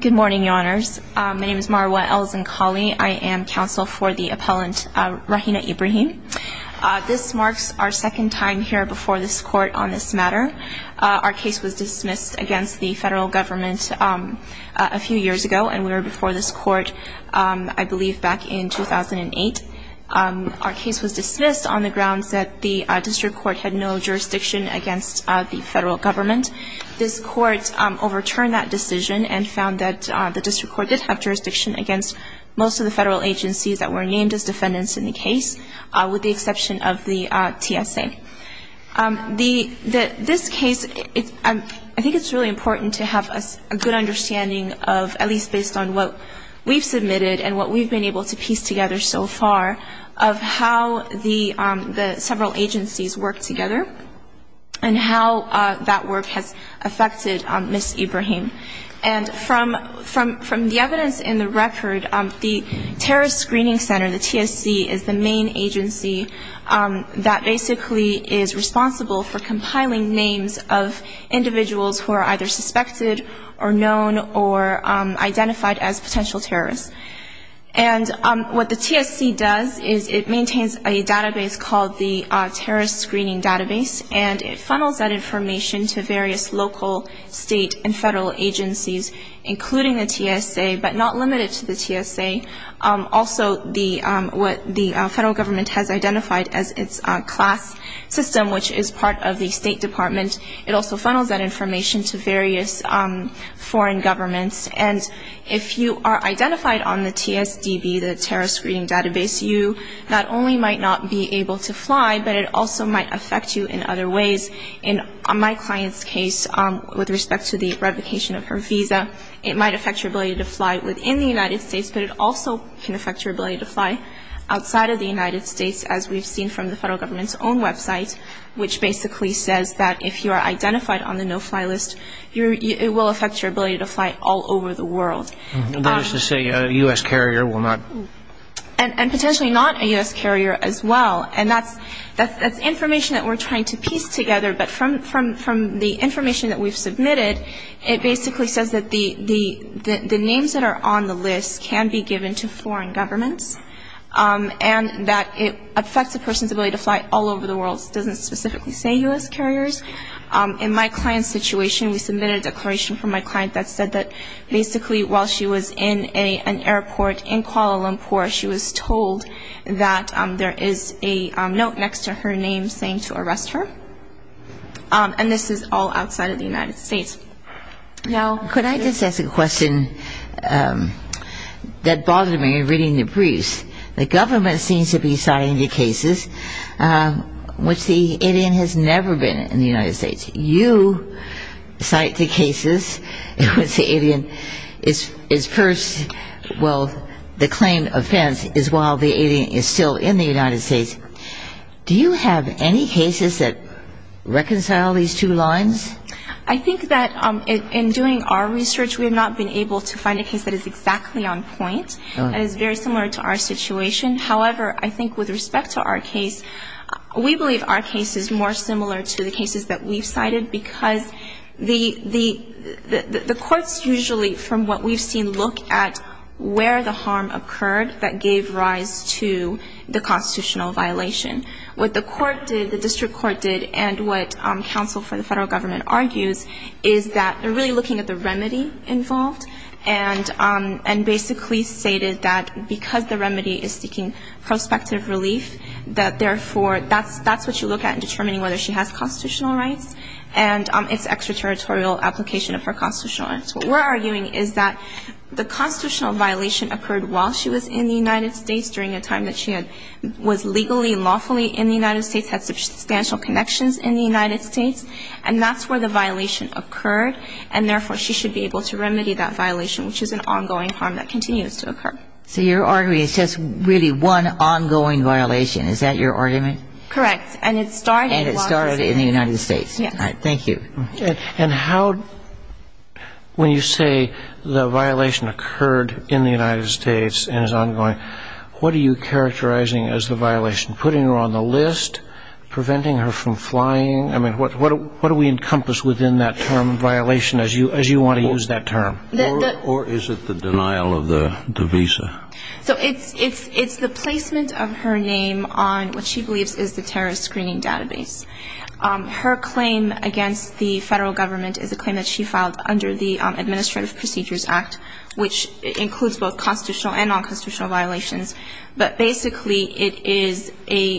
Good morning, your honors. My name is Marwa Elzenkhali. I am counsel for the appellant Rahinah Ibrahim This marks our second time here before this court on this matter Our case was dismissed against the federal government a few years ago, and we were before this court I believe back in 2008 Our case was dismissed on the grounds that the district court had no jurisdiction against the federal government This court overturned that decision and found that the district court did have jurisdiction against Most of the federal agencies that were named as defendants in the case with the exception of the TSA The that this case it I think it's really important to have a good understanding of at least based on what? we've submitted and what we've been able to piece together so far of how the several agencies work together and That work has affected on Miss Ibrahim and From from from the evidence in the record the Terrorist Screening Center. The TSC is the main agency that basically is responsible for compiling names of individuals who are either suspected or known or identified as potential terrorists and What the TSC does is it maintains a database called the Terrorist Screening Database And it funnels that information to various local state and federal agencies Including the TSA but not limited to the TSA Also the what the federal government has identified as its class system Which is part of the State Department it also funnels that information to various Foreign governments and if you are identified on the TSDB the Terrorist Screening Database You not only might not be able to fly but it also might affect you in other ways in My clients case with respect to the revocation of her visa It might affect your ability to fly within the United States But it also can affect your ability to fly outside of the United States as we've seen from the federal government's own website Which basically says that if you are identified on the no-fly list You it will affect your ability to fly all over the world There's to say a US carrier will not and potentially not a US carrier as well And that's that's that's information that we're trying to piece together but from from from the information that we've submitted it basically says that the the The names that are on the list can be given to foreign governments And that it affects a person's ability to fly all over the world doesn't specifically say US carriers In my client situation we submitted a declaration from my client that said that basically while she was in a an airport in Kuala Lumpur she was told that there is a note next to her name saying to arrest her And this is all outside of the United States Now could I just ask a question? That bothered me reading the briefs the government seems to be citing the cases Which the alien has never been in the United States you? cite the cases What's the alien is is first? Well the claim offense is while the alien is still in the United States Do you have any cases that? Reconcile these two lines I think that in doing our research We have not been able to find a case that is exactly on point and it's very similar to our situation however I think with respect to our case we believe our case is more similar to the cases that we've cited because the the The courts usually from what we've seen look at where the harm occurred that gave rise to The constitutional violation what the court did the district court did and what? counsel for the federal government argues is that they're really looking at the remedy involved and And basically stated that because the remedy is seeking prospective relief that therefore that's that's what you look at and determining whether she has constitutional rights and It's extraterritorial application of her constitutional rights We're arguing is that the constitutional violation occurred while she was in the United States during a time that she had Was legally lawfully in the United States had substantial connections in the United States And that's where the violation occurred and therefore she should be able to remedy that violation Which is an ongoing harm that continues to occur so you're arguing. It's just really one ongoing violation Is that your argument correct and it started it started in the United States? Yeah, thank you and how? When you say the violation occurred in the United States and is ongoing What are you characterizing as the violation putting her on the list? Preventing her from flying. I mean what what what do we encompass within that term? Violation as you as you want to use that term or is it the denial of the visa? So it's it's it's the placement of her name on what she believes is the terrorist screening database Her claim against the federal government is a claim that she filed under the Administrative Procedures Act which includes both constitutional and non-constitutional violations, but basically it is a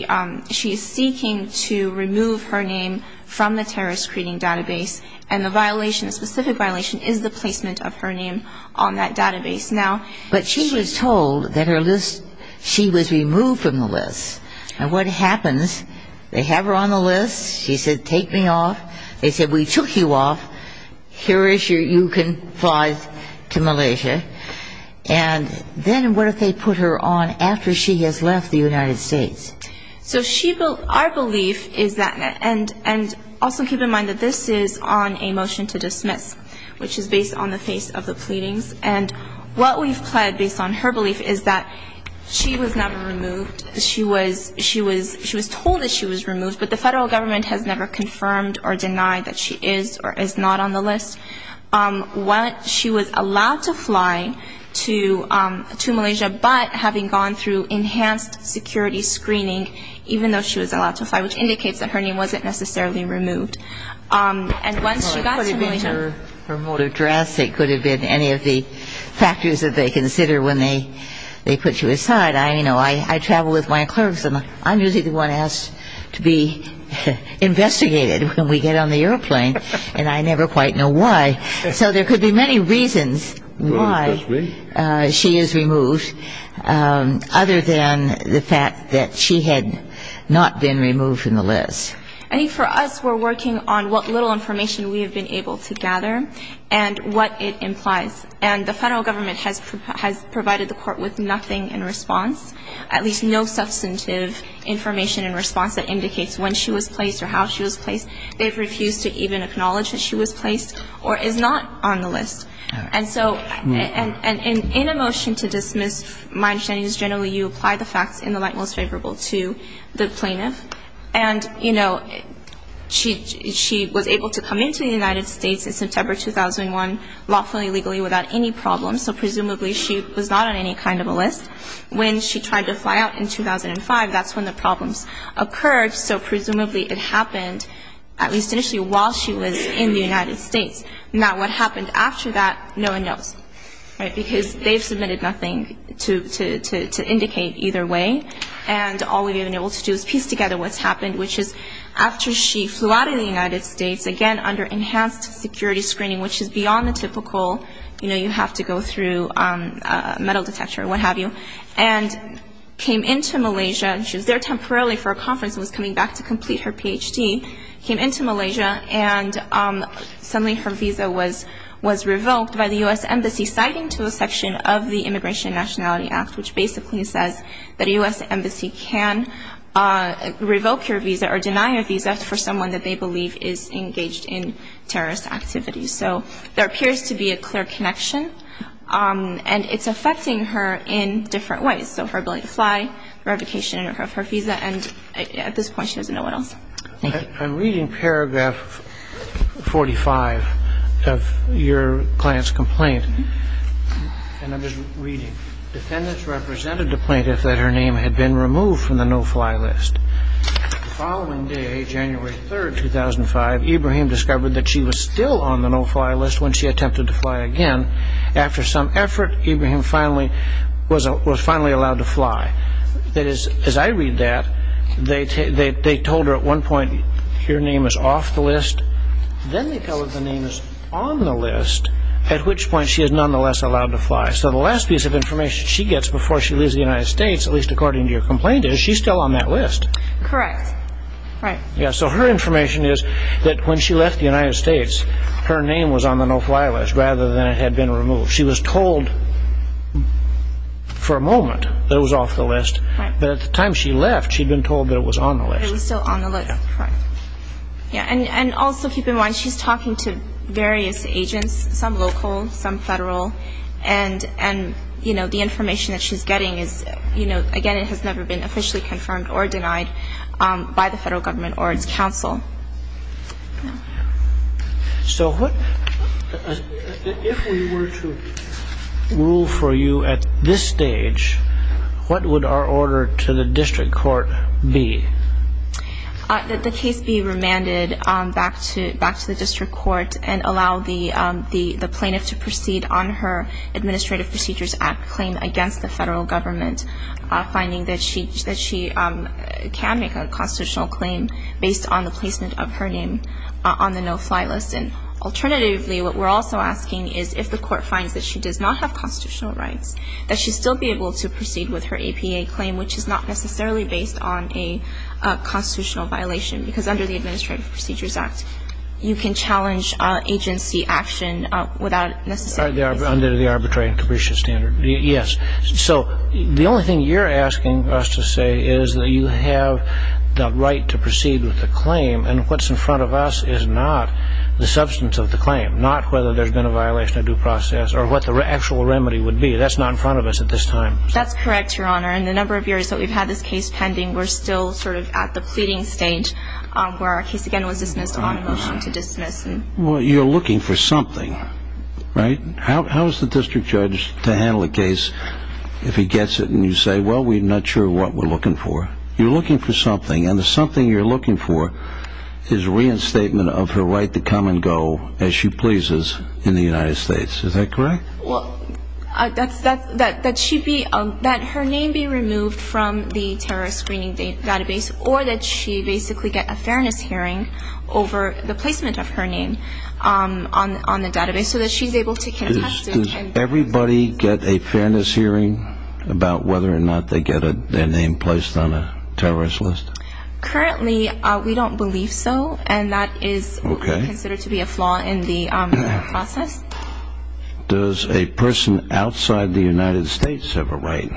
She is seeking to remove her name from the terrorist screening database and the violation The specific violation is the placement of her name on that database now But she was told that her list she was removed from the list and what happens They have her on the list. She said take me off. They said we took you off here is your you can fly to Malaysia and Then what if they put her on after she has left the United States? So she built our belief is that and and also keep in mind that this is on a motion to dismiss which is based on the face of the pleadings and what we've pled based on her belief is that She was never removed she was she was she was told that she was removed But the federal government has never confirmed or denied that she is or is not on the list What she was allowed to fly to? To Malaysia, but having gone through enhanced security screening even though she was allowed to fly which indicates that her name wasn't necessarily removed and Aside I you know, I I travel with my clerks and I'm usually the one asked to be Investigated when we get on the airplane and I never quite know why so there could be many reasons She is removed Other than the fact that she had not been removed from the list I think for us we're working on what little information we have been able to gather and What it implies and the federal government has provided the court with nothing in response at least no substantive Information and response that indicates when she was placed or how she was placed They've refused to even acknowledge that she was placed or is not on the list and so and and in a motion to dismiss my understanding is generally you apply the facts in the light most favorable to the plaintiff and you know She she was able to come into the United States in September 2001 lawfully legally without any problems So presumably she was not on any kind of a list when she tried to fly out in 2005 That's when the problems occurred So presumably it happened at least initially while she was in the United States not what happened after that No one knows right because they've submitted nothing to to to indicate either way And all we've been able to do is piece together what's happened Which is after she flew out of the United States again under enhanced security screening, which is beyond the typical you know, you have to go through a metal detector and what-have-you and Came into Malaysia. She was there temporarily for a conference was coming back to complete her PhD came into Malaysia and Suddenly her visa was was revoked by the US Embassy citing to a section of the Immigration Nationality Act which basically says that a US Embassy can Revoke your visa or deny a visa for someone that they believe is engaged in terrorist activities So there appears to be a clear connection And it's affecting her in different ways. So her ability to fly Revocation of her visa and at this point she doesn't know what else I'm reading paragraph 45 of your client's complaint Represented the plaintiff that her name had been removed from the no-fly list following day January 3rd 2005 Ibrahim discovered that she was still on the no-fly list when she attempted to fly again After some effort even him finally was a was finally allowed to fly that is as I read that They take they told her at one point your name is off the list Then they tell if the name is on the list at which point she is nonetheless allowed to fly So the last piece of information she gets before she leaves the United States at least according to your complaint is she's still on that list Correct, right? Yeah, so her information is that when she left the United States Her name was on the no-fly list rather than it had been removed. She was told For a moment that was off the list, but at the time she left she'd been told that it was on the list Yeah, and and also keep in mind she's talking to various agents some local some federal and You know the information that she's getting is, you know, again, it has never been officially confirmed or denied by the federal government or its counsel So what Rule for you at this stage, what would our order to the district court be? that the case be remanded back to back to the district court and allow the plaintiff to proceed on her Administrative Procedures Act claim against the federal government finding that she that she Can make a constitutional claim based on the placement of her name on the no-fly list and alternatively What we're also asking is if the court finds that she does not have constitutional rights that she'd still be able to proceed with her APA claim, which is not necessarily based on a Constitutional violation because under the Administrative Procedures Act you can challenge agency action without necessarily arbitrary and capricious standard yes, so the only thing you're asking us to say is that you have the right to proceed with the claim and what's in front of us is not The substance of the claim not whether there's been a violation of due process or what the actual remedy would be that's not in Front of us at this time. That's correct. Your honor and the number of years that we've had this case pending We're still sort of at the pleading stage Where our case again was dismissed on a motion to dismiss and what you're looking for something Right, how's the district judge to handle a case if he gets it and you say well We're not sure what we're looking for. You're looking for something and there's something you're looking for His reinstatement of her right to come and go as she pleases in the United States. Is that correct? That's that that that she be that her name be removed from the terrorist screening database or that she basically get a fairness Over the placement of her name On on the database so that she's able to can Everybody get a fairness hearing about whether or not they get a their name placed on a terrorist list Currently, we don't believe so and that is okay considered to be a flaw in the process Does a person outside the United States have a right?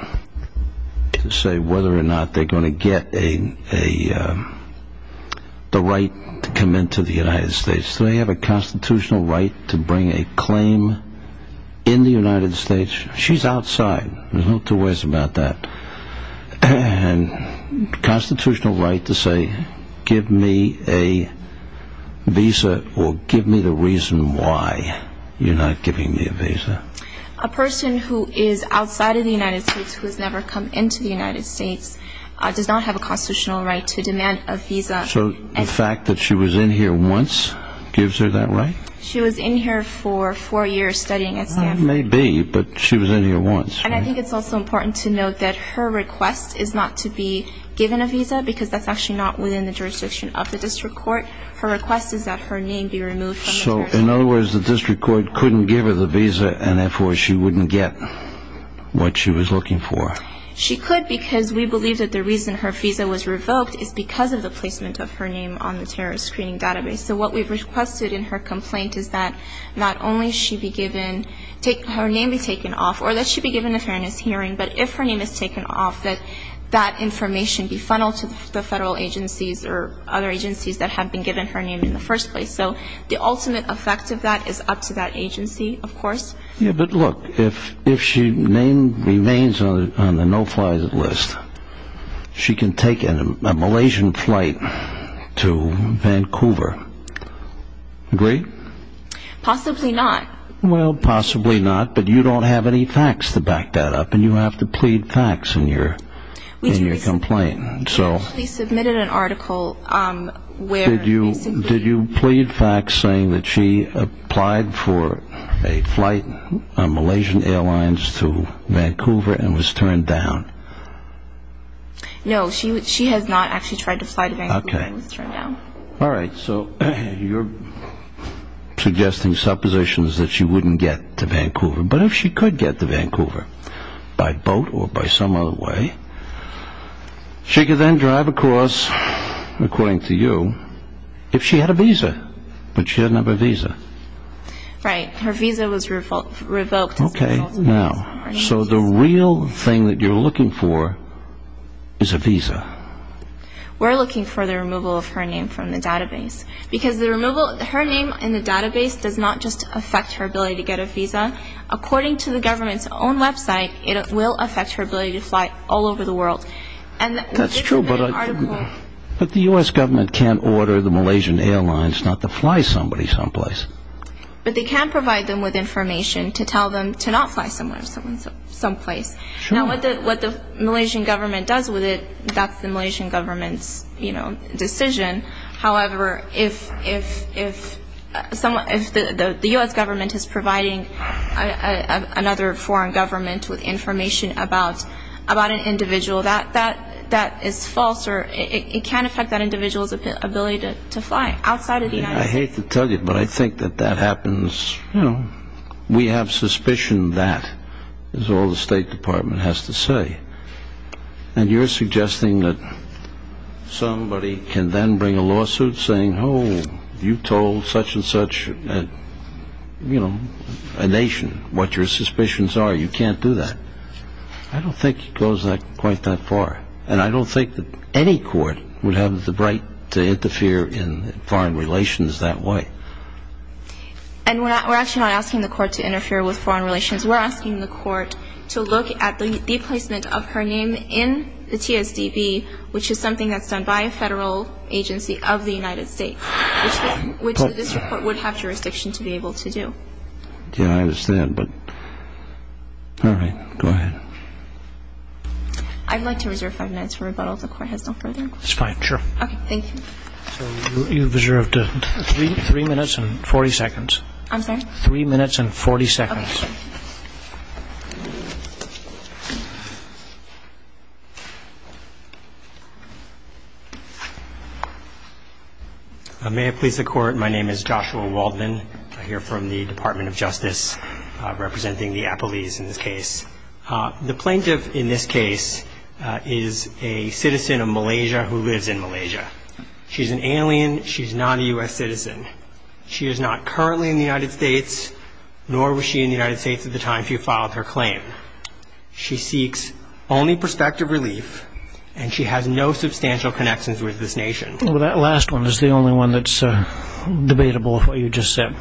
to say whether or not they're going to get a a The right to come into the United States, so they have a constitutional right to bring a claim In the United States, she's outside. There's no two ways about that and constitutional right to say give me a Visa or give me the reason why you're not giving me a visa a Person who is outside of the United States who has never come into the United States Does not have a constitutional right to demand a visa so the fact that she was in here once gives her that, right? She was in here for four years studying at maybe but she was in here once And I think it's also important to note that her request is not to be Given a visa because that's actually not within the jurisdiction of the district court Her request is that her name be removed. So in other words the district court couldn't give her the visa and therefore she wouldn't get What she was looking for She could because we believe that the reason her visa was revoked is because of the placement of her name on the terrorist screening database So what we've requested in her complaint is that not only she be given Take her name be taken off or that she be given a fairness hearing But if her name is taken off that that information be funneled to the federal agencies or other Agencies that have been given her name in the first place. So the ultimate effect of that is up to that agency Of course, yeah, but look if if she name remains on the no-fly list She can take in a Malaysian flight to Vancouver Great Possibly not. Well, possibly not but you don't have any facts to back that up and you have to plead facts in your In your complaint. So Submitted an article Where do you did you plead facts saying that she applied for a flight? Malaysian Airlines to Vancouver and was turned down No, she would she has not actually tried to fight okay now, all right, so you're Suggesting suppositions that she wouldn't get to Vancouver, but if she could get to Vancouver by boat or by some other way She could then drive across According to you if she had a visa, but she had never visa Right. Her visa was revoked revoked. Okay now so the real thing that you're looking for is a visa We're looking for the removal of her name from the database Because the removal her name in the database does not just affect her ability to get a visa According to the government's own website, it will affect her ability to fly all over the world and that's true, but But the US government can't order the Malaysian Airlines not to fly somebody someplace But they can't provide them with information to tell them to not fly somewhere. So in some place You know what the what the Malaysian government does with it. That's the Malaysian government's, you know decision however, if if if Someone if the the US government is providing another foreign government with information about About an individual that that that is false or it can affect that individual's ability to fly outside of the I hate to tell you But I think that that happens, you know, we have suspicion that is all the State Department has to say and you're suggesting that Somebody can then bring a lawsuit saying oh you told such-and-such You know a nation what your suspicions are. You can't do that. I Don't think it goes like quite that far and I don't think that any court would have the right to interfere in foreign relations that way and We're actually not asking the court to interfere with foreign relations We're asking the court to look at the placement of her name in the TSDB Which is something that's done by a federal agency of the United States Which this report would have jurisdiction to be able to do. Yeah, I understand but All right, go ahead I'd like to reserve five minutes for rebuttal if the court has no further. It's fine. Sure. Okay. Thank you You've observed three minutes and 40 seconds. I'm sorry three minutes and 40 seconds I May have pleased the court. My name is Joshua Waldman. I hear from the Department of Justice representing the Apple ease in this case The plaintiff in this case is a citizen of Malaysia who lives in Malaysia She's an alien. She's not a u.s. Citizen. She is not currently in the United States Nor was she in the United States at the time if you filed her claim She seeks only perspective relief and she has no substantial connections with this nation that last one is the only one that's Debatable of what you just said.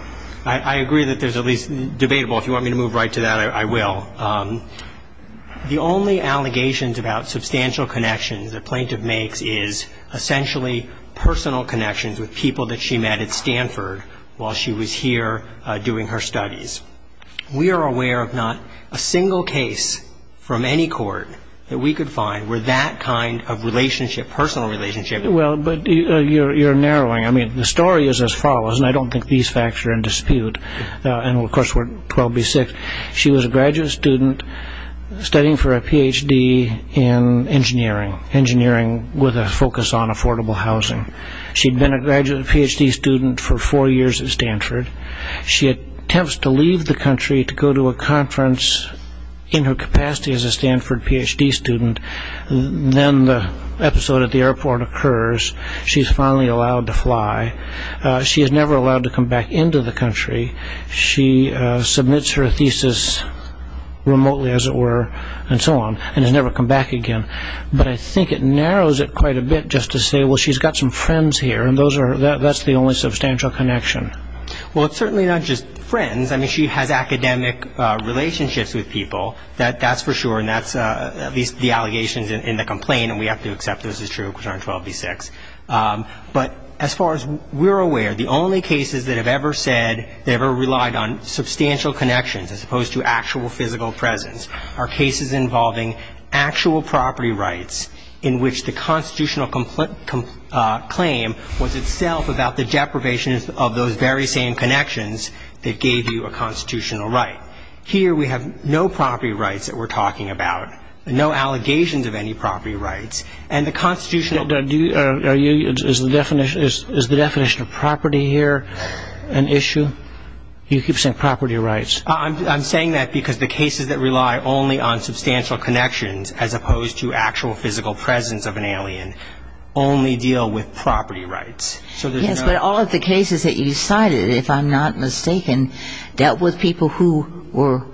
I agree that there's at least debatable if you want me to move right to that. I will the only allegations about substantial connections that plaintiff makes is Essentially personal connections with people that she met at Stanford while she was here doing her studies We are aware of not a single case From any court that we could find where that kind of relationship personal relationship Well, but you're you're narrowing. I mean the story is as follows and I don't think these facts are in dispute And of course, we're 12 b6. She was a graduate student studying for a PhD in Engineering engineering with a focus on affordable housing. She'd been a graduate PhD student for four years at Stanford She attempts to leave the country to go to a conference In her capacity as a Stanford PhD student Then the episode at the airport occurs. She's finally allowed to fly She has never allowed to come back into the country. She submits her thesis Remotely as it were and so on and has never come back again But I think it narrows it quite a bit just to say well She's got some friends here and those are that that's the only substantial connection. Well, it's certainly not just friends. I mean she has academic Relationships with people that that's for sure and that's at least the allegations in the complaint and we have to accept This is true, which aren't 12 b6 But as far as we're aware the only cases that have ever said they ever relied on Substantial connections as opposed to actual physical presence our cases involving actual property rights in which the constitutional complaint Claim was itself about the deprivation of those very same connections that gave you a constitutional right here We have no property rights that we're talking about No allegations of any property rights and the constitutional do you is the definition is the definition of property here? an issue You keep saying property rights I'm saying that because the cases that rely only on substantial connections as opposed to actual physical presence of an alien Only deal with property rights So there's but all of the cases that you decided if I'm not mistaken dealt with people who were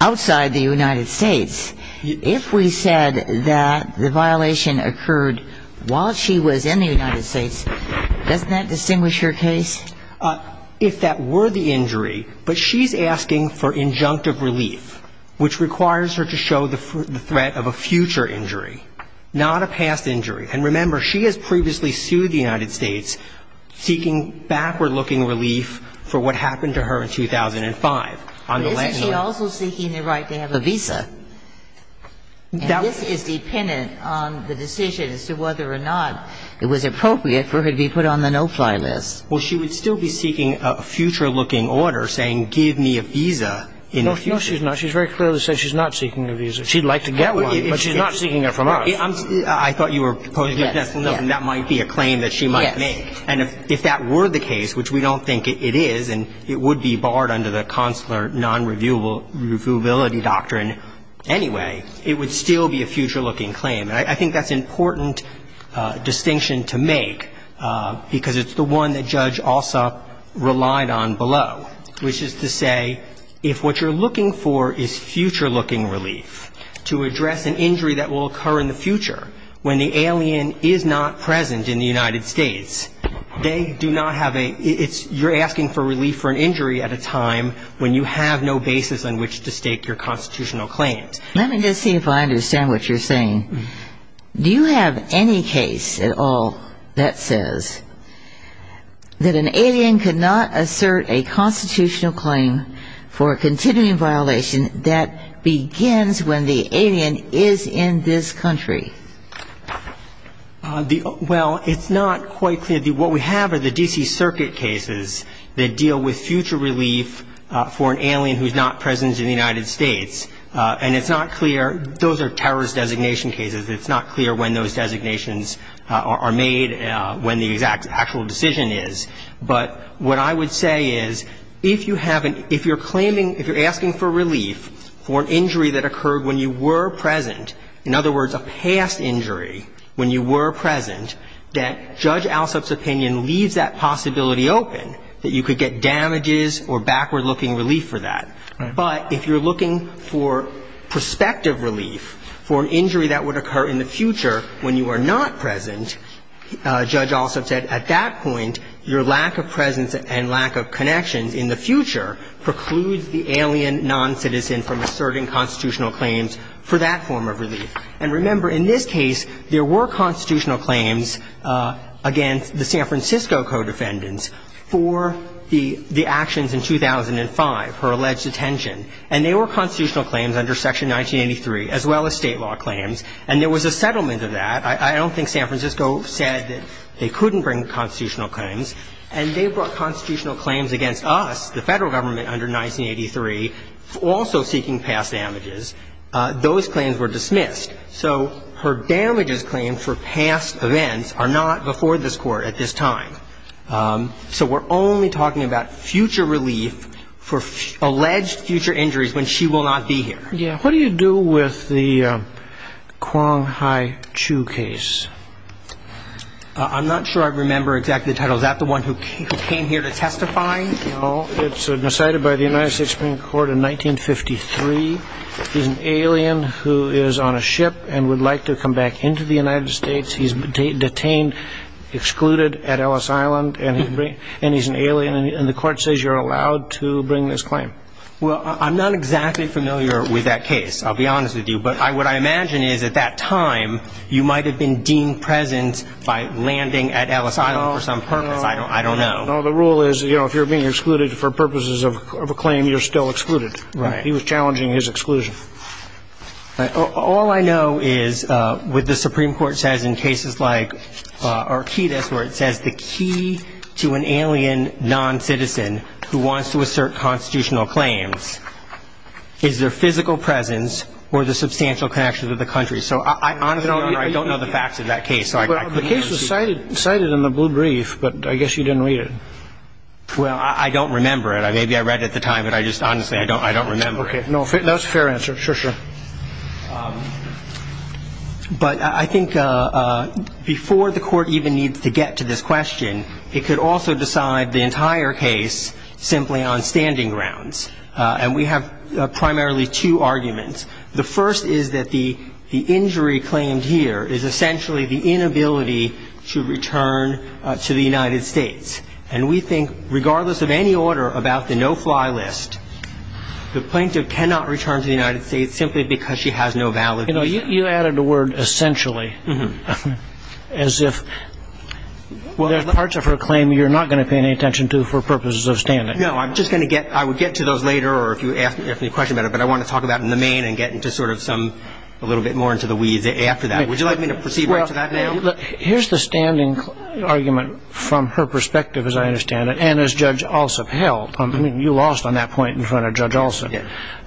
Outside the United States if we said that the violation occurred while she was in the United States Doesn't that distinguish her case? If that were the injury, but she's asking for injunctive relief Which requires her to show the threat of a future injury not a past injury and remember she has previously sued the United States Seeking backward-looking relief for what happened to her in 2005 Right they have a visa Now this is dependent on the decision as to whether or not it was appropriate for her to be put on the no-fly list Well, she would still be seeking a future looking order saying give me a visa You know, she's not she's very clearly said she's not seeking a visa. She'd like to get one, but she's not seeking it from us I thought you were That might be a claim that she might make and if that were the case Which we don't think it is and it would be barred under the consular non reviewable Reviewability doctrine anyway, it would still be a future-looking claim. I think that's important distinction to make Because it's the one that judge also Relied on below which is to say if what you're looking for is future-looking relief To address an injury that will occur in the future when the alien is not present in the United States They do not have a it's you're asking for relief for an injury at a time When you have no basis on which to stake your constitutional claims, let me just see if I understand what you're saying Do you have any case at all that says? That an alien could not assert a constitutional claim for a continuing violation that Begins when the alien is in this country The well, it's not quite clear what we have are the DC Circuit cases that deal with future relief For an alien who's not present in the United States, and it's not clear. Those are terrorist designation cases It's not clear when those designations are made when the exact actual decision is But what I would say is if you have an if you're claiming if you're asking for relief For an injury that occurred when you were present in other words a past injury when you were present That judge Al's opinion leaves that possibility open that you could get damages or backward-looking relief for that but if you're looking for Prospective relief for an injury that would occur in the future when you are not present Judge also said at that point your lack of presence and lack of connections in the future precludes the alien non-citizen from asserting constitutional claims for that form of relief and remember in this case there were constitutional claims against the San Francisco Defendants for the the actions in 2005 her alleged detention and they were constitutional claims under section 1983 as well as state law claims and there was a settlement of that I don't think San Francisco said that they couldn't bring constitutional claims and they brought constitutional claims against us the federal government under 1983 also seeking past damages Those claims were dismissed. So her damages claims for past events are not before this court at this time So we're only talking about future relief for alleged future injuries when she will not be here. Yeah, what do you do with the? quang hi-chu case I'm not sure. I remember exactly the title that the one who came here to testify You know, it's decided by the United States Supreme Court in 1953 he's an alien who is on a ship and would like to come back into the United States. He's detained Excluded at Ellis Island and he's an alien and the court says you're allowed to bring this claim Well, I'm not exactly familiar with that case I'll be honest with you But I what I imagine is at that time you might have been deemed present by landing at Ellis Island for some purpose I don't know. No, the rule is, you know, if you're being excluded for purposes of a claim, you're still excluded, right? He was challenging his exclusion all I know is with the Supreme Court says in cases like Arquitas where it says the key to an alien non-citizen who wants to assert constitutional claims Is their physical presence or the substantial connections of the country? So I honestly don't know the facts of that case So I guess the case was cited cited in the blue brief, but I guess you didn't read it Well, I don't remember it. Maybe I read at the time, but I just honestly I don't I don't remember. Okay No, that's fair answer. Sure. Sure But I think Before the court even needs to get to this question, it could also decide the entire case simply on standing grounds And we have primarily two arguments The first is that the the injury claimed here is essentially the inability to return To the United States and we think regardless of any order about the no-fly list The plaintiff cannot return to the United States simply because she has no valid, you know, you added a word essentially as if Well, there's parts of her claim. You're not going to pay any attention to for purposes of standing No I'm just going to get I would get to those later or if you ask me a question about it But I want to talk about in the main and get into sort of some a little bit more into the weeds after that Would you like me to proceed? Here's the standing Argument from her perspective as I understand it and as judge also held I mean you lost on that point in front of judge also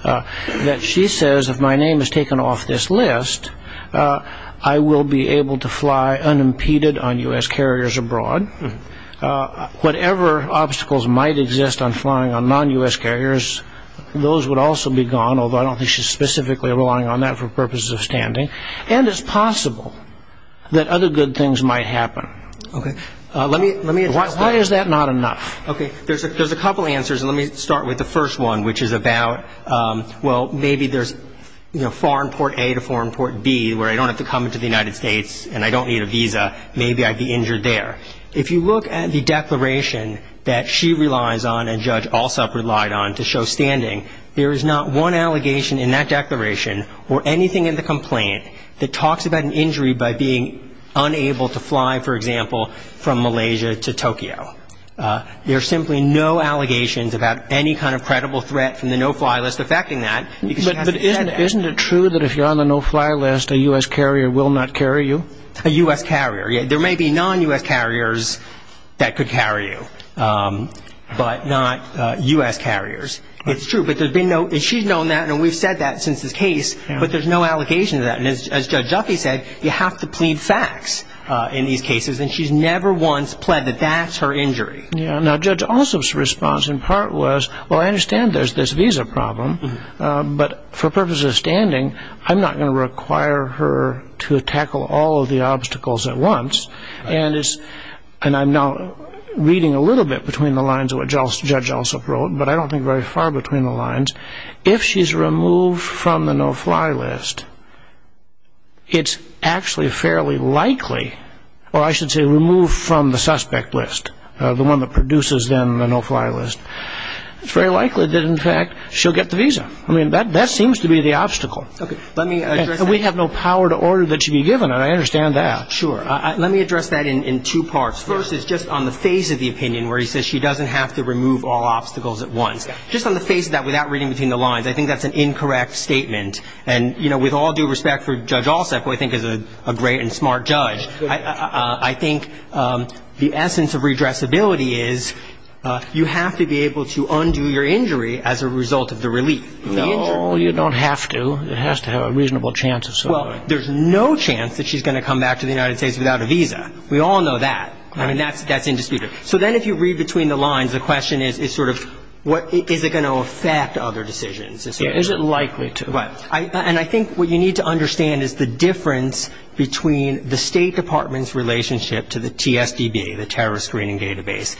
That she says if my name is taken off this list I will be able to fly unimpeded on u.s. Carriers abroad Whatever obstacles might exist on flying on non u.s. Carriers Those would also be gone. Although I don't think she's specifically relying on that for purposes of standing and it's possible That other good things might happen. Okay, let me let me watch. Why is that not enough? Okay, there's a there's a couple answers and let me start with the first one, which is about Well, maybe there's no foreign port a to foreign port B where I don't have to come into the United States And I don't need a visa Maybe I'd be injured there if you look at the declaration that she relies on and judge also relied on to show standing There is not one allegation in that declaration or anything in the complaint that talks about an injury by being Unable to fly for example from Malaysia to Tokyo There are simply no allegations about any kind of credible threat from the no-fly list affecting that Isn't it true that if you're on the no-fly list a u.s. Carrier will not carry you a u.s. Carrier Yeah, there may be non u.s. Carriers that could carry you But not u.s. Carriers, it's true But there's been no and she's known that and we've said that since this case But there's no allocation of that and as judge Jaffe said you have to plead facts In these cases and she's never once pled that that's her injury Yeah, now judge also response in part was well, I understand there's this visa problem But for purposes of standing I'm not going to require her to tackle all of the obstacles at once and it's and I'm now Reading a little bit between the lines of what just judge also wrote But I don't think very far between the lines if she's removed from the no-fly list It's actually fairly likely or I should say removed from the suspect list the one that produces them the no-fly list It's very likely that in fact, she'll get the visa. I mean that that seems to be the obstacle Okay, let me we have no power to order that should be given and I understand that sure Let me address that in two parts first is just on the phase of the opinion where he says she doesn't have to remove all Obstacles at once just on the face of that without reading between the lines I think that's an incorrect statement and you know with all due respect for judge all set boy I think is a great and smart judge. I think the essence of redress ability is You have to be able to undo your injury as a result of the relief No, you don't have to it has to have a reasonable chance of so Well, there's no chance that she's going to come back to the United States without a visa. We all know that I mean, that's that's indisputable So then if you read between the lines the question is is sort of what is it going to affect other decisions? Is it likely to but I and I think what you need to understand is the difference between the State Department's relationship To the TSDB the terrorist screening database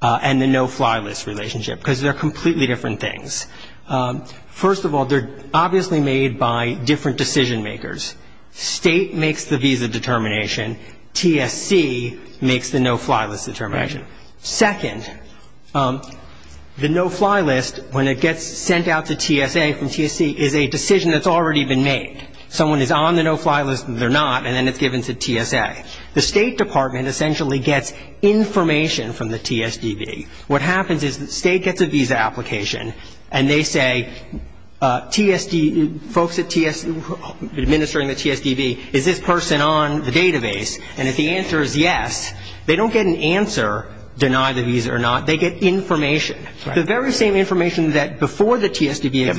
and the no-fly list relationship because they're completely different things First of all, they're obviously made by different decision makers State makes the visa determination TSC makes the no-fly list determination second The no-fly list when it gets sent out to TSA from TSC is a decision that's already been made Someone is on the no-fly list and they're not and then it's given to TSA the State Department essentially gets Information from the TSDB. What happens is the state gets a visa application and they say TSD folks at TS Administering the TSDB is this person on the database? And if the answer is yes, they don't get an answer Deny the visa or not. They get information the very same information that before the TSDB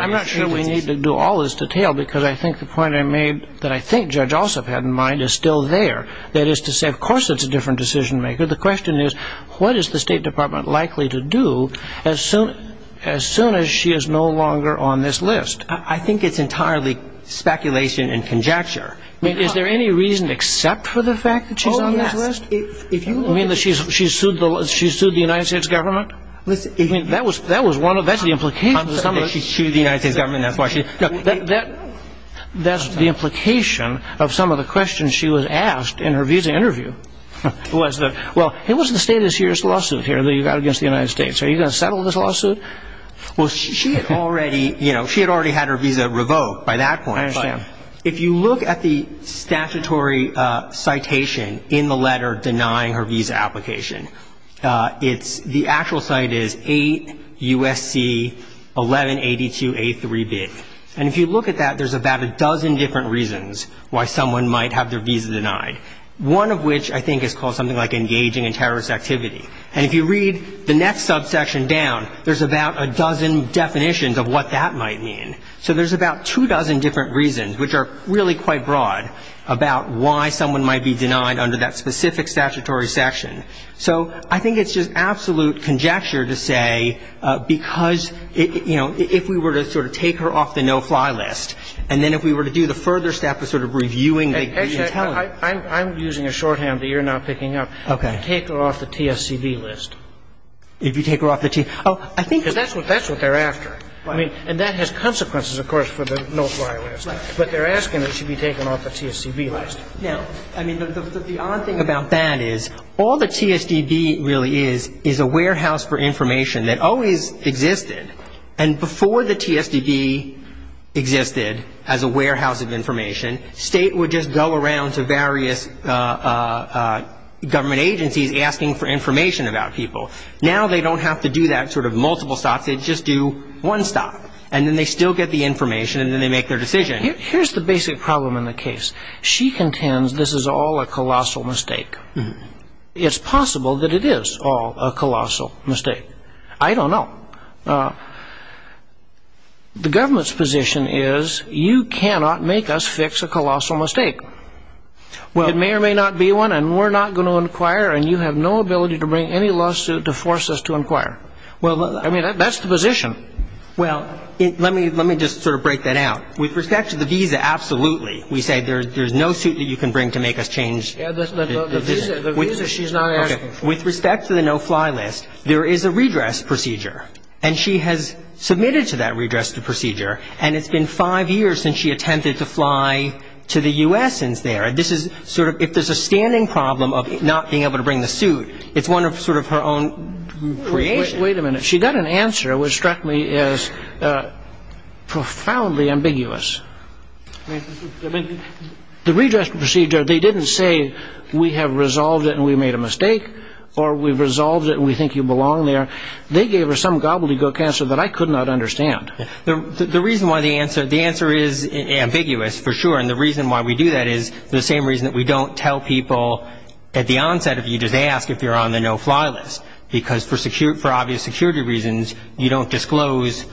I'm not sure we need to do all this detail because I think the point I made that I think judge also had in mind Is still there that is to say of course, it's a different decision maker The question is what is the State Department likely to do as soon as soon as she is no longer on this list? I think it's entirely Speculation and conjecture. I mean, is there any reason except for the fact that she's on this list if you mean that she's she's sued She sued the United States government. Listen, that was that was one of that's the implication That's the implication of some of the questions she was asked in her visa interview Was that well, it was the State of Sears lawsuit here that you got against the United States. Are you gonna settle this lawsuit? Well, she had already, you know, she had already had her visa revoked by that point Sam if you look at the statutory citation in the letter denying her visa application It's the actual site is 8 USC 1182 a3 bit and if you look at that There's about a dozen different reasons why someone might have their visa denied One of which I think is called something like engaging in terrorist activity And if you read the next subsection down, there's about a dozen definitions of what that might mean So there's about two dozen different reasons which are really quite broad About why someone might be denied under that specific statutory section. So I think it's just absolute conjecture to say because you know if we were to sort of take her off the no-fly list and then if we were to do the further step of Sort of reviewing I'm using a shorthand that you're not picking up. Okay, take her off the TSCB list If you take her off the team, oh, I think that's what that's what they're after I mean and that has consequences, of course for the no-fly list, but they're asking that she be taken off the TSCB list yeah, I mean the odd thing about that is all the TSDB really is is a warehouse for information that always existed and before the TSDB Existed as a warehouse of information state would just go around to various Government agencies asking for information about people now, they don't have to do that sort of multiple stops They just do one stop and then they still get the information and then they make their decision Here's the basic problem in the case. She contends. This is all a colossal mistake It's possible that it is all a colossal mistake. I don't know The government's position is you cannot make us fix a colossal mistake Well, it may or may not be one and we're not going to inquire and you have no ability to bring any lawsuit to Force us to inquire. Well, I mean that that's the position Well, let me let me just sort of break that out with respect to the visa Absolutely. We said there's there's no suit that you can bring to make us change With respect to the no-fly list There is a redress procedure and she has submitted to that redress the procedure and it's been five years since she attempted to fly To the u.s. Since there and this is sort of if there's a standing problem of not being able to bring the suit It's one of sort of her own Wait a minute. She got an answer which struck me as Profoundly ambiguous The redress procedure they didn't say we have resolved it and we made a mistake Or we've resolved it and we think you belong there They gave her some gobbledygook answer that I could not understand the reason why the answer the answer is Ambiguous for sure And the reason why we do that is the same reason that we don't tell people At the onset of you just ask if you're on the no-fly list because for secure for obvious security reasons you don't disclose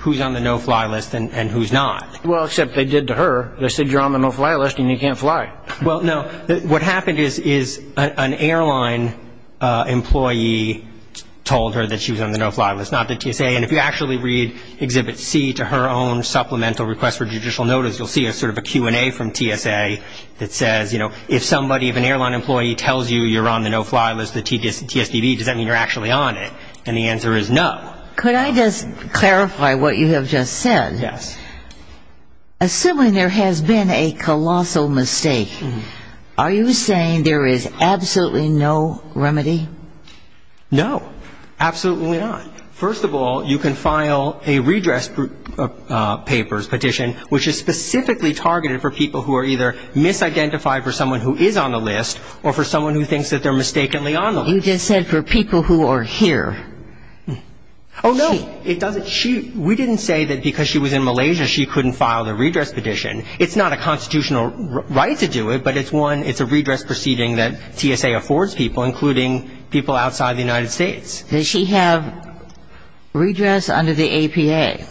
Who's on the no-fly list and who's not well except they did to her They said you're on the no-fly list and you can't fly. Well, no what happened is is an airline employee Told her that she was on the no-fly list not that you say and if you actually read Exhibit C to her own supplemental request for judicial notice You'll see a sort of a Q&A from TSA That says, you know If somebody if an airline employee tells you you're on the no-fly list the tedious TSDB does that mean you're actually on it? And the answer is no, could I just clarify what you have just said? Yes Assuming there has been a colossal mistake Are you saying there is absolutely no remedy No, absolutely not. First of all, you can file a redress papers petition which is specifically targeted for people who are either Misidentified for someone who is on the list or for someone who thinks that they're mistakenly on them You just said for people who are here. Oh No, it doesn't she we didn't say that because she was in Malaysia. She couldn't file the redress petition It's not a constitutional right to do it But it's one it's a redress proceeding that TSA affords people including people outside the United States. Does she have? redress under the APA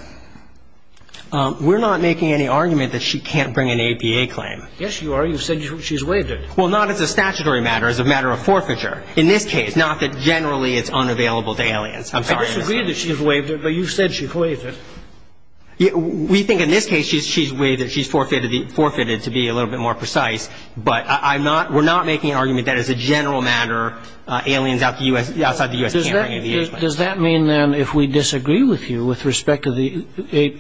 We're not making any argument that she can't bring an APA claim. Yes, you are you said she's waived it Well, not as a statutory matter as a matter of forfeiture in this case. Not that generally it's unavailable to aliens I'm sorry that she's waived it, but you said she waived it We think in this case she's she's way that she's forfeited the forfeited to be a little bit more precise But I'm not we're not making an argument. That is a general matter aliens out the US outside the US Does that mean then if we disagree with you with respect to the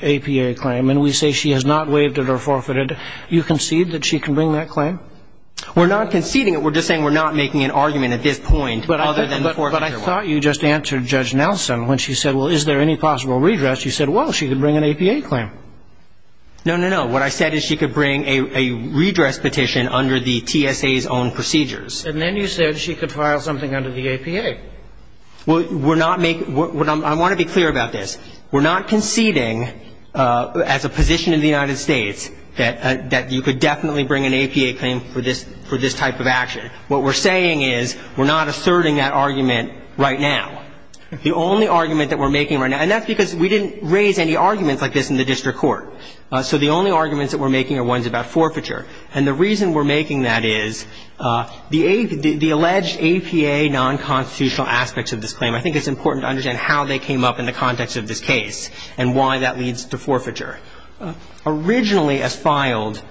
APA claim? And we say she has not waived it or forfeited you concede that she can bring that claim. We're not conceding it We're just saying we're not making an argument at this point But I thought you just answered judge Nelson when she said well, is there any possible redress? You said well, she could bring an APA claim No, no. No, what I said is she could bring a redress petition under the TSA's own procedures And then you said she could file something under the APA Well, we're not making what I want to be clear about this. We're not conceding As a position in the United States that that you could definitely bring an APA claim for this for this type of action What we're saying is we're not asserting that argument right now The only argument that we're making right now and that's because we didn't raise any arguments like this in the district court So the only arguments that we're making are ones about forfeiture. And the reason we're making that is The a the alleged APA non-constitutional aspects of this claim I think it's important to understand how they came up in the context of this case and why that leads to forfeiture Originally as filed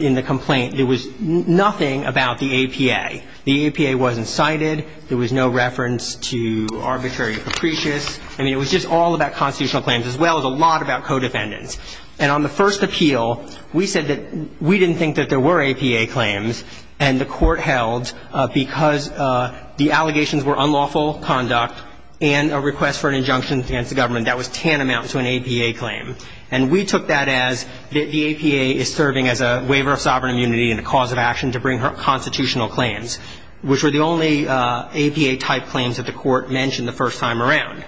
in the complaint. There was nothing about the APA. The APA wasn't cited There was no reference to Arbitrary capricious and it was just all about constitutional claims as well as a lot about co-defendants and on the first appeal We said that we didn't think that there were APA claims and the court held Because the allegations were unlawful conduct and a request for an injunction against the government That was tantamount to an APA claim and we took that as that The APA is serving as a waiver of sovereign immunity and a cause of action to bring her constitutional claims Which were the only APA type claims that the court mentioned the first time around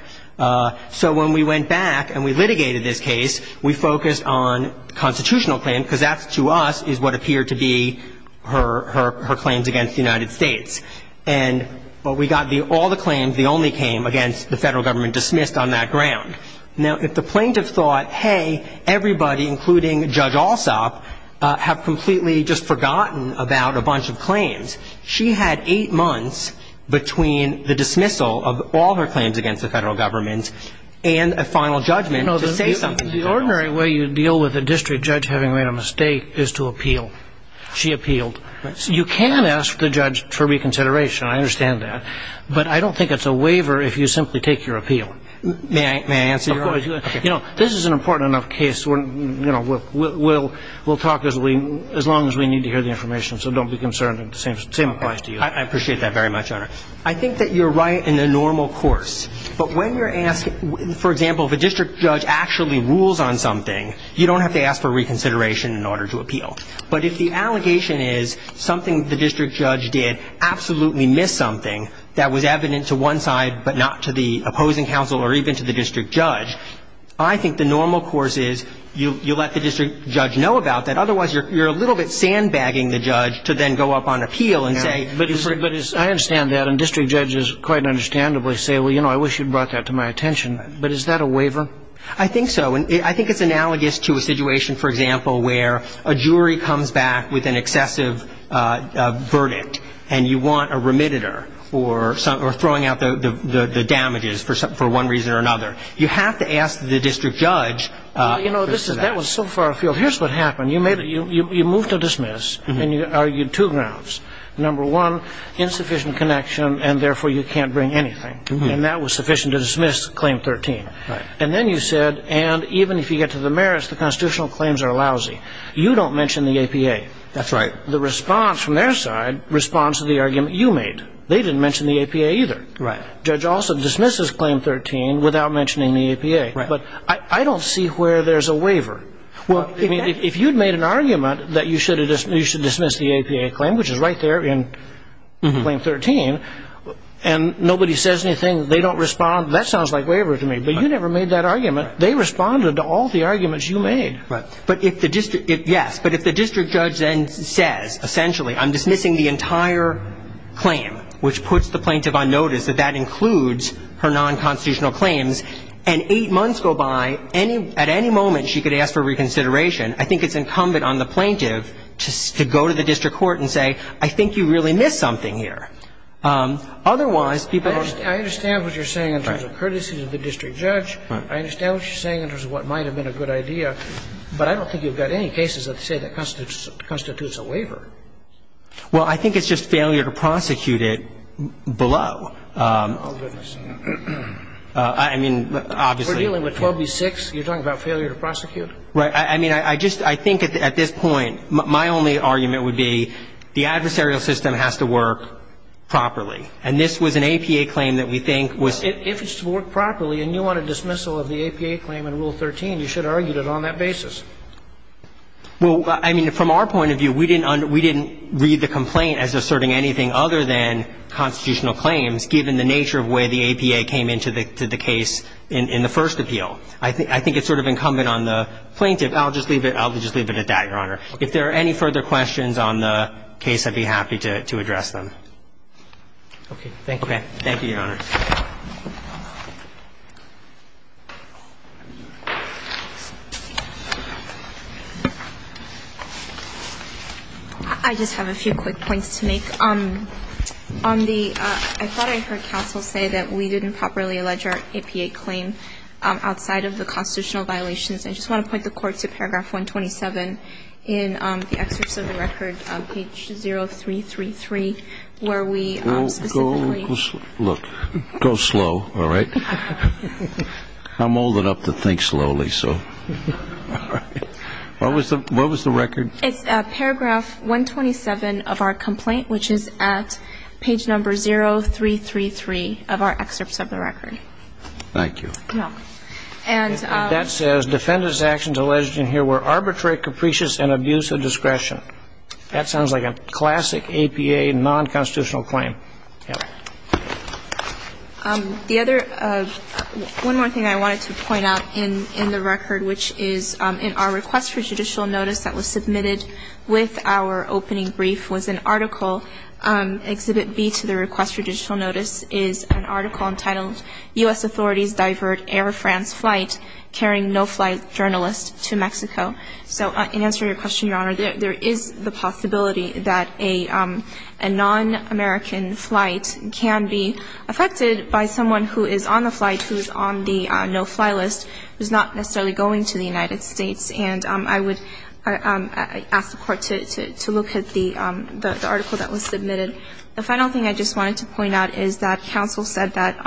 So when we went back and we litigated this case we focused on constitutional claim because that's to us is what appeared to be her her claims against the United States and But we got the all the claims the only came against the federal government dismissed on that ground Now if the plaintiff thought hey everybody including judge also Have completely just forgotten about a bunch of claims She had eight months between the dismissal of all her claims against the federal government and a final judgment The ordinary way you deal with a district judge having made a mistake is to appeal She appealed you can ask the judge for reconsideration I understand that but I don't think it's a waiver if you simply take your appeal May I answer you know, this is an important enough case when you know We'll we'll talk as we as long as we need to hear the information. So don't be concerned the same applies to you I appreciate that very much honor. I think that you're right in the normal course But when you're asking for example, if a district judge actually rules on something You don't have to ask for reconsideration in order to appeal But if the allegation is something the district judge did absolutely miss something that was evident to one side But not to the opposing counsel or even to the district judge I think the normal course is you let the district judge know about that Otherwise, you're a little bit sandbagging the judge to then go up on appeal and say but it's very good I understand that and district judges quite understandably say well, you know, I wish you'd brought that to my attention But is that a waiver? I think so And I think it's analogous to a situation for example where a jury comes back with an excessive Verdict and you want a remitted ER or something or throwing out the Damages for some for one reason or another you have to ask the district judge You know, this is that was so far afield. Here's what happened You made it you moved to dismiss and you argued two grounds number one Insufficient connection and therefore you can't bring anything and that was sufficient to dismiss claim 13 Right, and then you said and even if you get to the merits, the constitutional claims are lousy. You don't mention the APA That's right. The response from their side responds to the argument you made they didn't mention the APA either Right judge also dismisses claim 13 without mentioning the APA, but I don't see where there's a waiver Well, I mean if you'd made an argument that you should have dismissed you should dismiss the APA claim, which is right there in claim 13 and Nobody says anything. They don't respond. That sounds like waiver to me, but you never made that argument They responded to all the arguments you made right, but if the district it yes But if the district judge then says essentially I'm dismissing the entire Claim which puts the plaintiff on notice that that includes her non-constitutional claims and eight months go by any at any moment She could ask for reconsideration I think it's incumbent on the plaintiff to go to the district court and say I think you really missed something here Otherwise people understand what you're saying in terms of courtesy of the district judge I understand what you're saying in terms of what might have been a good idea But I don't think you've got any cases that say that constitutes constitutes a waiver Well, I think it's just failure to prosecute it below I mean Obviously dealing with 12 v 6 you're talking about failure to prosecute, right? I mean, I just I think at this point my only argument would be the adversarial system has to work properly and this was an APA claim that we think was if it's to work properly and you want a dismissal of the APA claim You should have argued it on that basis well, I mean from our point of view we didn't under we didn't read the complaint as asserting anything other than Constitutional claims given the nature of way the APA came into the case in the first appeal I think I think it's sort of incumbent on the plaintiff. I'll just leave it I'll just leave it at that your honor if there are any further questions on the case. I'd be happy to address them Okay. Thank you. Thank you I Just have a few quick points to make um On the I thought I heard counsel say that we didn't properly allege our APA claim outside of the constitutional violations I just want to put the court to paragraph 127 in the excerpts of the record page 0 3 3 3 where we Look go slow. All right I'm old enough to think slowly. So What was the what was the record it's a paragraph 127 of our complaint, which is at page number 0333 of our excerpts of the record Thank you And that says defendants actions alleged in here were arbitrary capricious and abuse of discretion That sounds like a classic APA non-constitutional claim The other one more thing I wanted to point out in in the record, which is in our request for judicial notice that was submitted with Our opening brief was an article Exhibit B to the request for digital notice is an article entitled u.s. Authorities divert Air France flight carrying no-flight journalist to Mexico. So in answer your question, Your Honor there is the possibility that a a Non-american flight can be affected by someone who is on the flight who's on the no-fly list who's not necessarily going to the United States, and I would Ask the court to look at the the article that was submitted the final thing I just wanted to point out is that counsel said that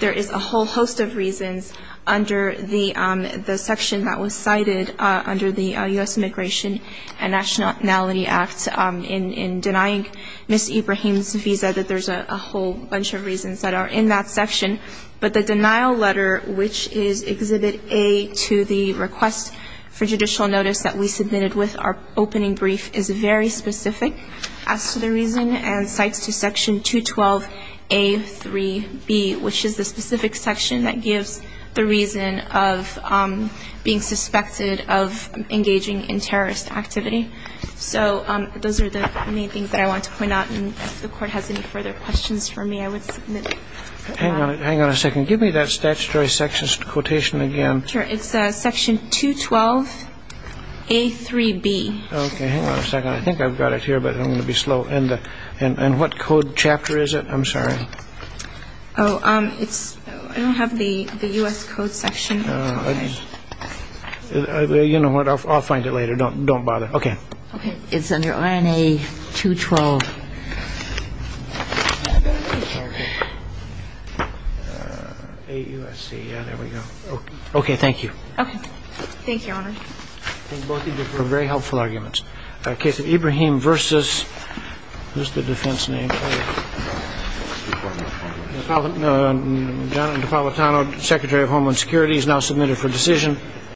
there is a whole host of reasons under the section that was cited under the US Immigration and Internationality Act in denying Miss Ibrahim's visa that there's a whole bunch of reasons that are in that section but the denial letter which is exhibit a to the request for judicial notice that we submitted with our opening brief is very specific as to the reason and cites to section 212 a 3b, which is the specific section that gives the reason of being suspected of So those are the main things that I want to point out and the court has any further questions for me I would Hang on hang on a second. Give me that statutory sections quotation again. Sure. It's a section 212 a 3b I've got it here, but I'm gonna be slow and and what code chapter is it? I'm sorry. Oh It's I don't have the the US Code section I mean, you know what? I'll find it later. Don't don't bother. Okay. Okay. It's under RNA 212 Okay, thank you Very helpful arguments a case of Ibrahim versus just the defense name Jonathan Napolitano secretary of Homeland Security is now submitted for decision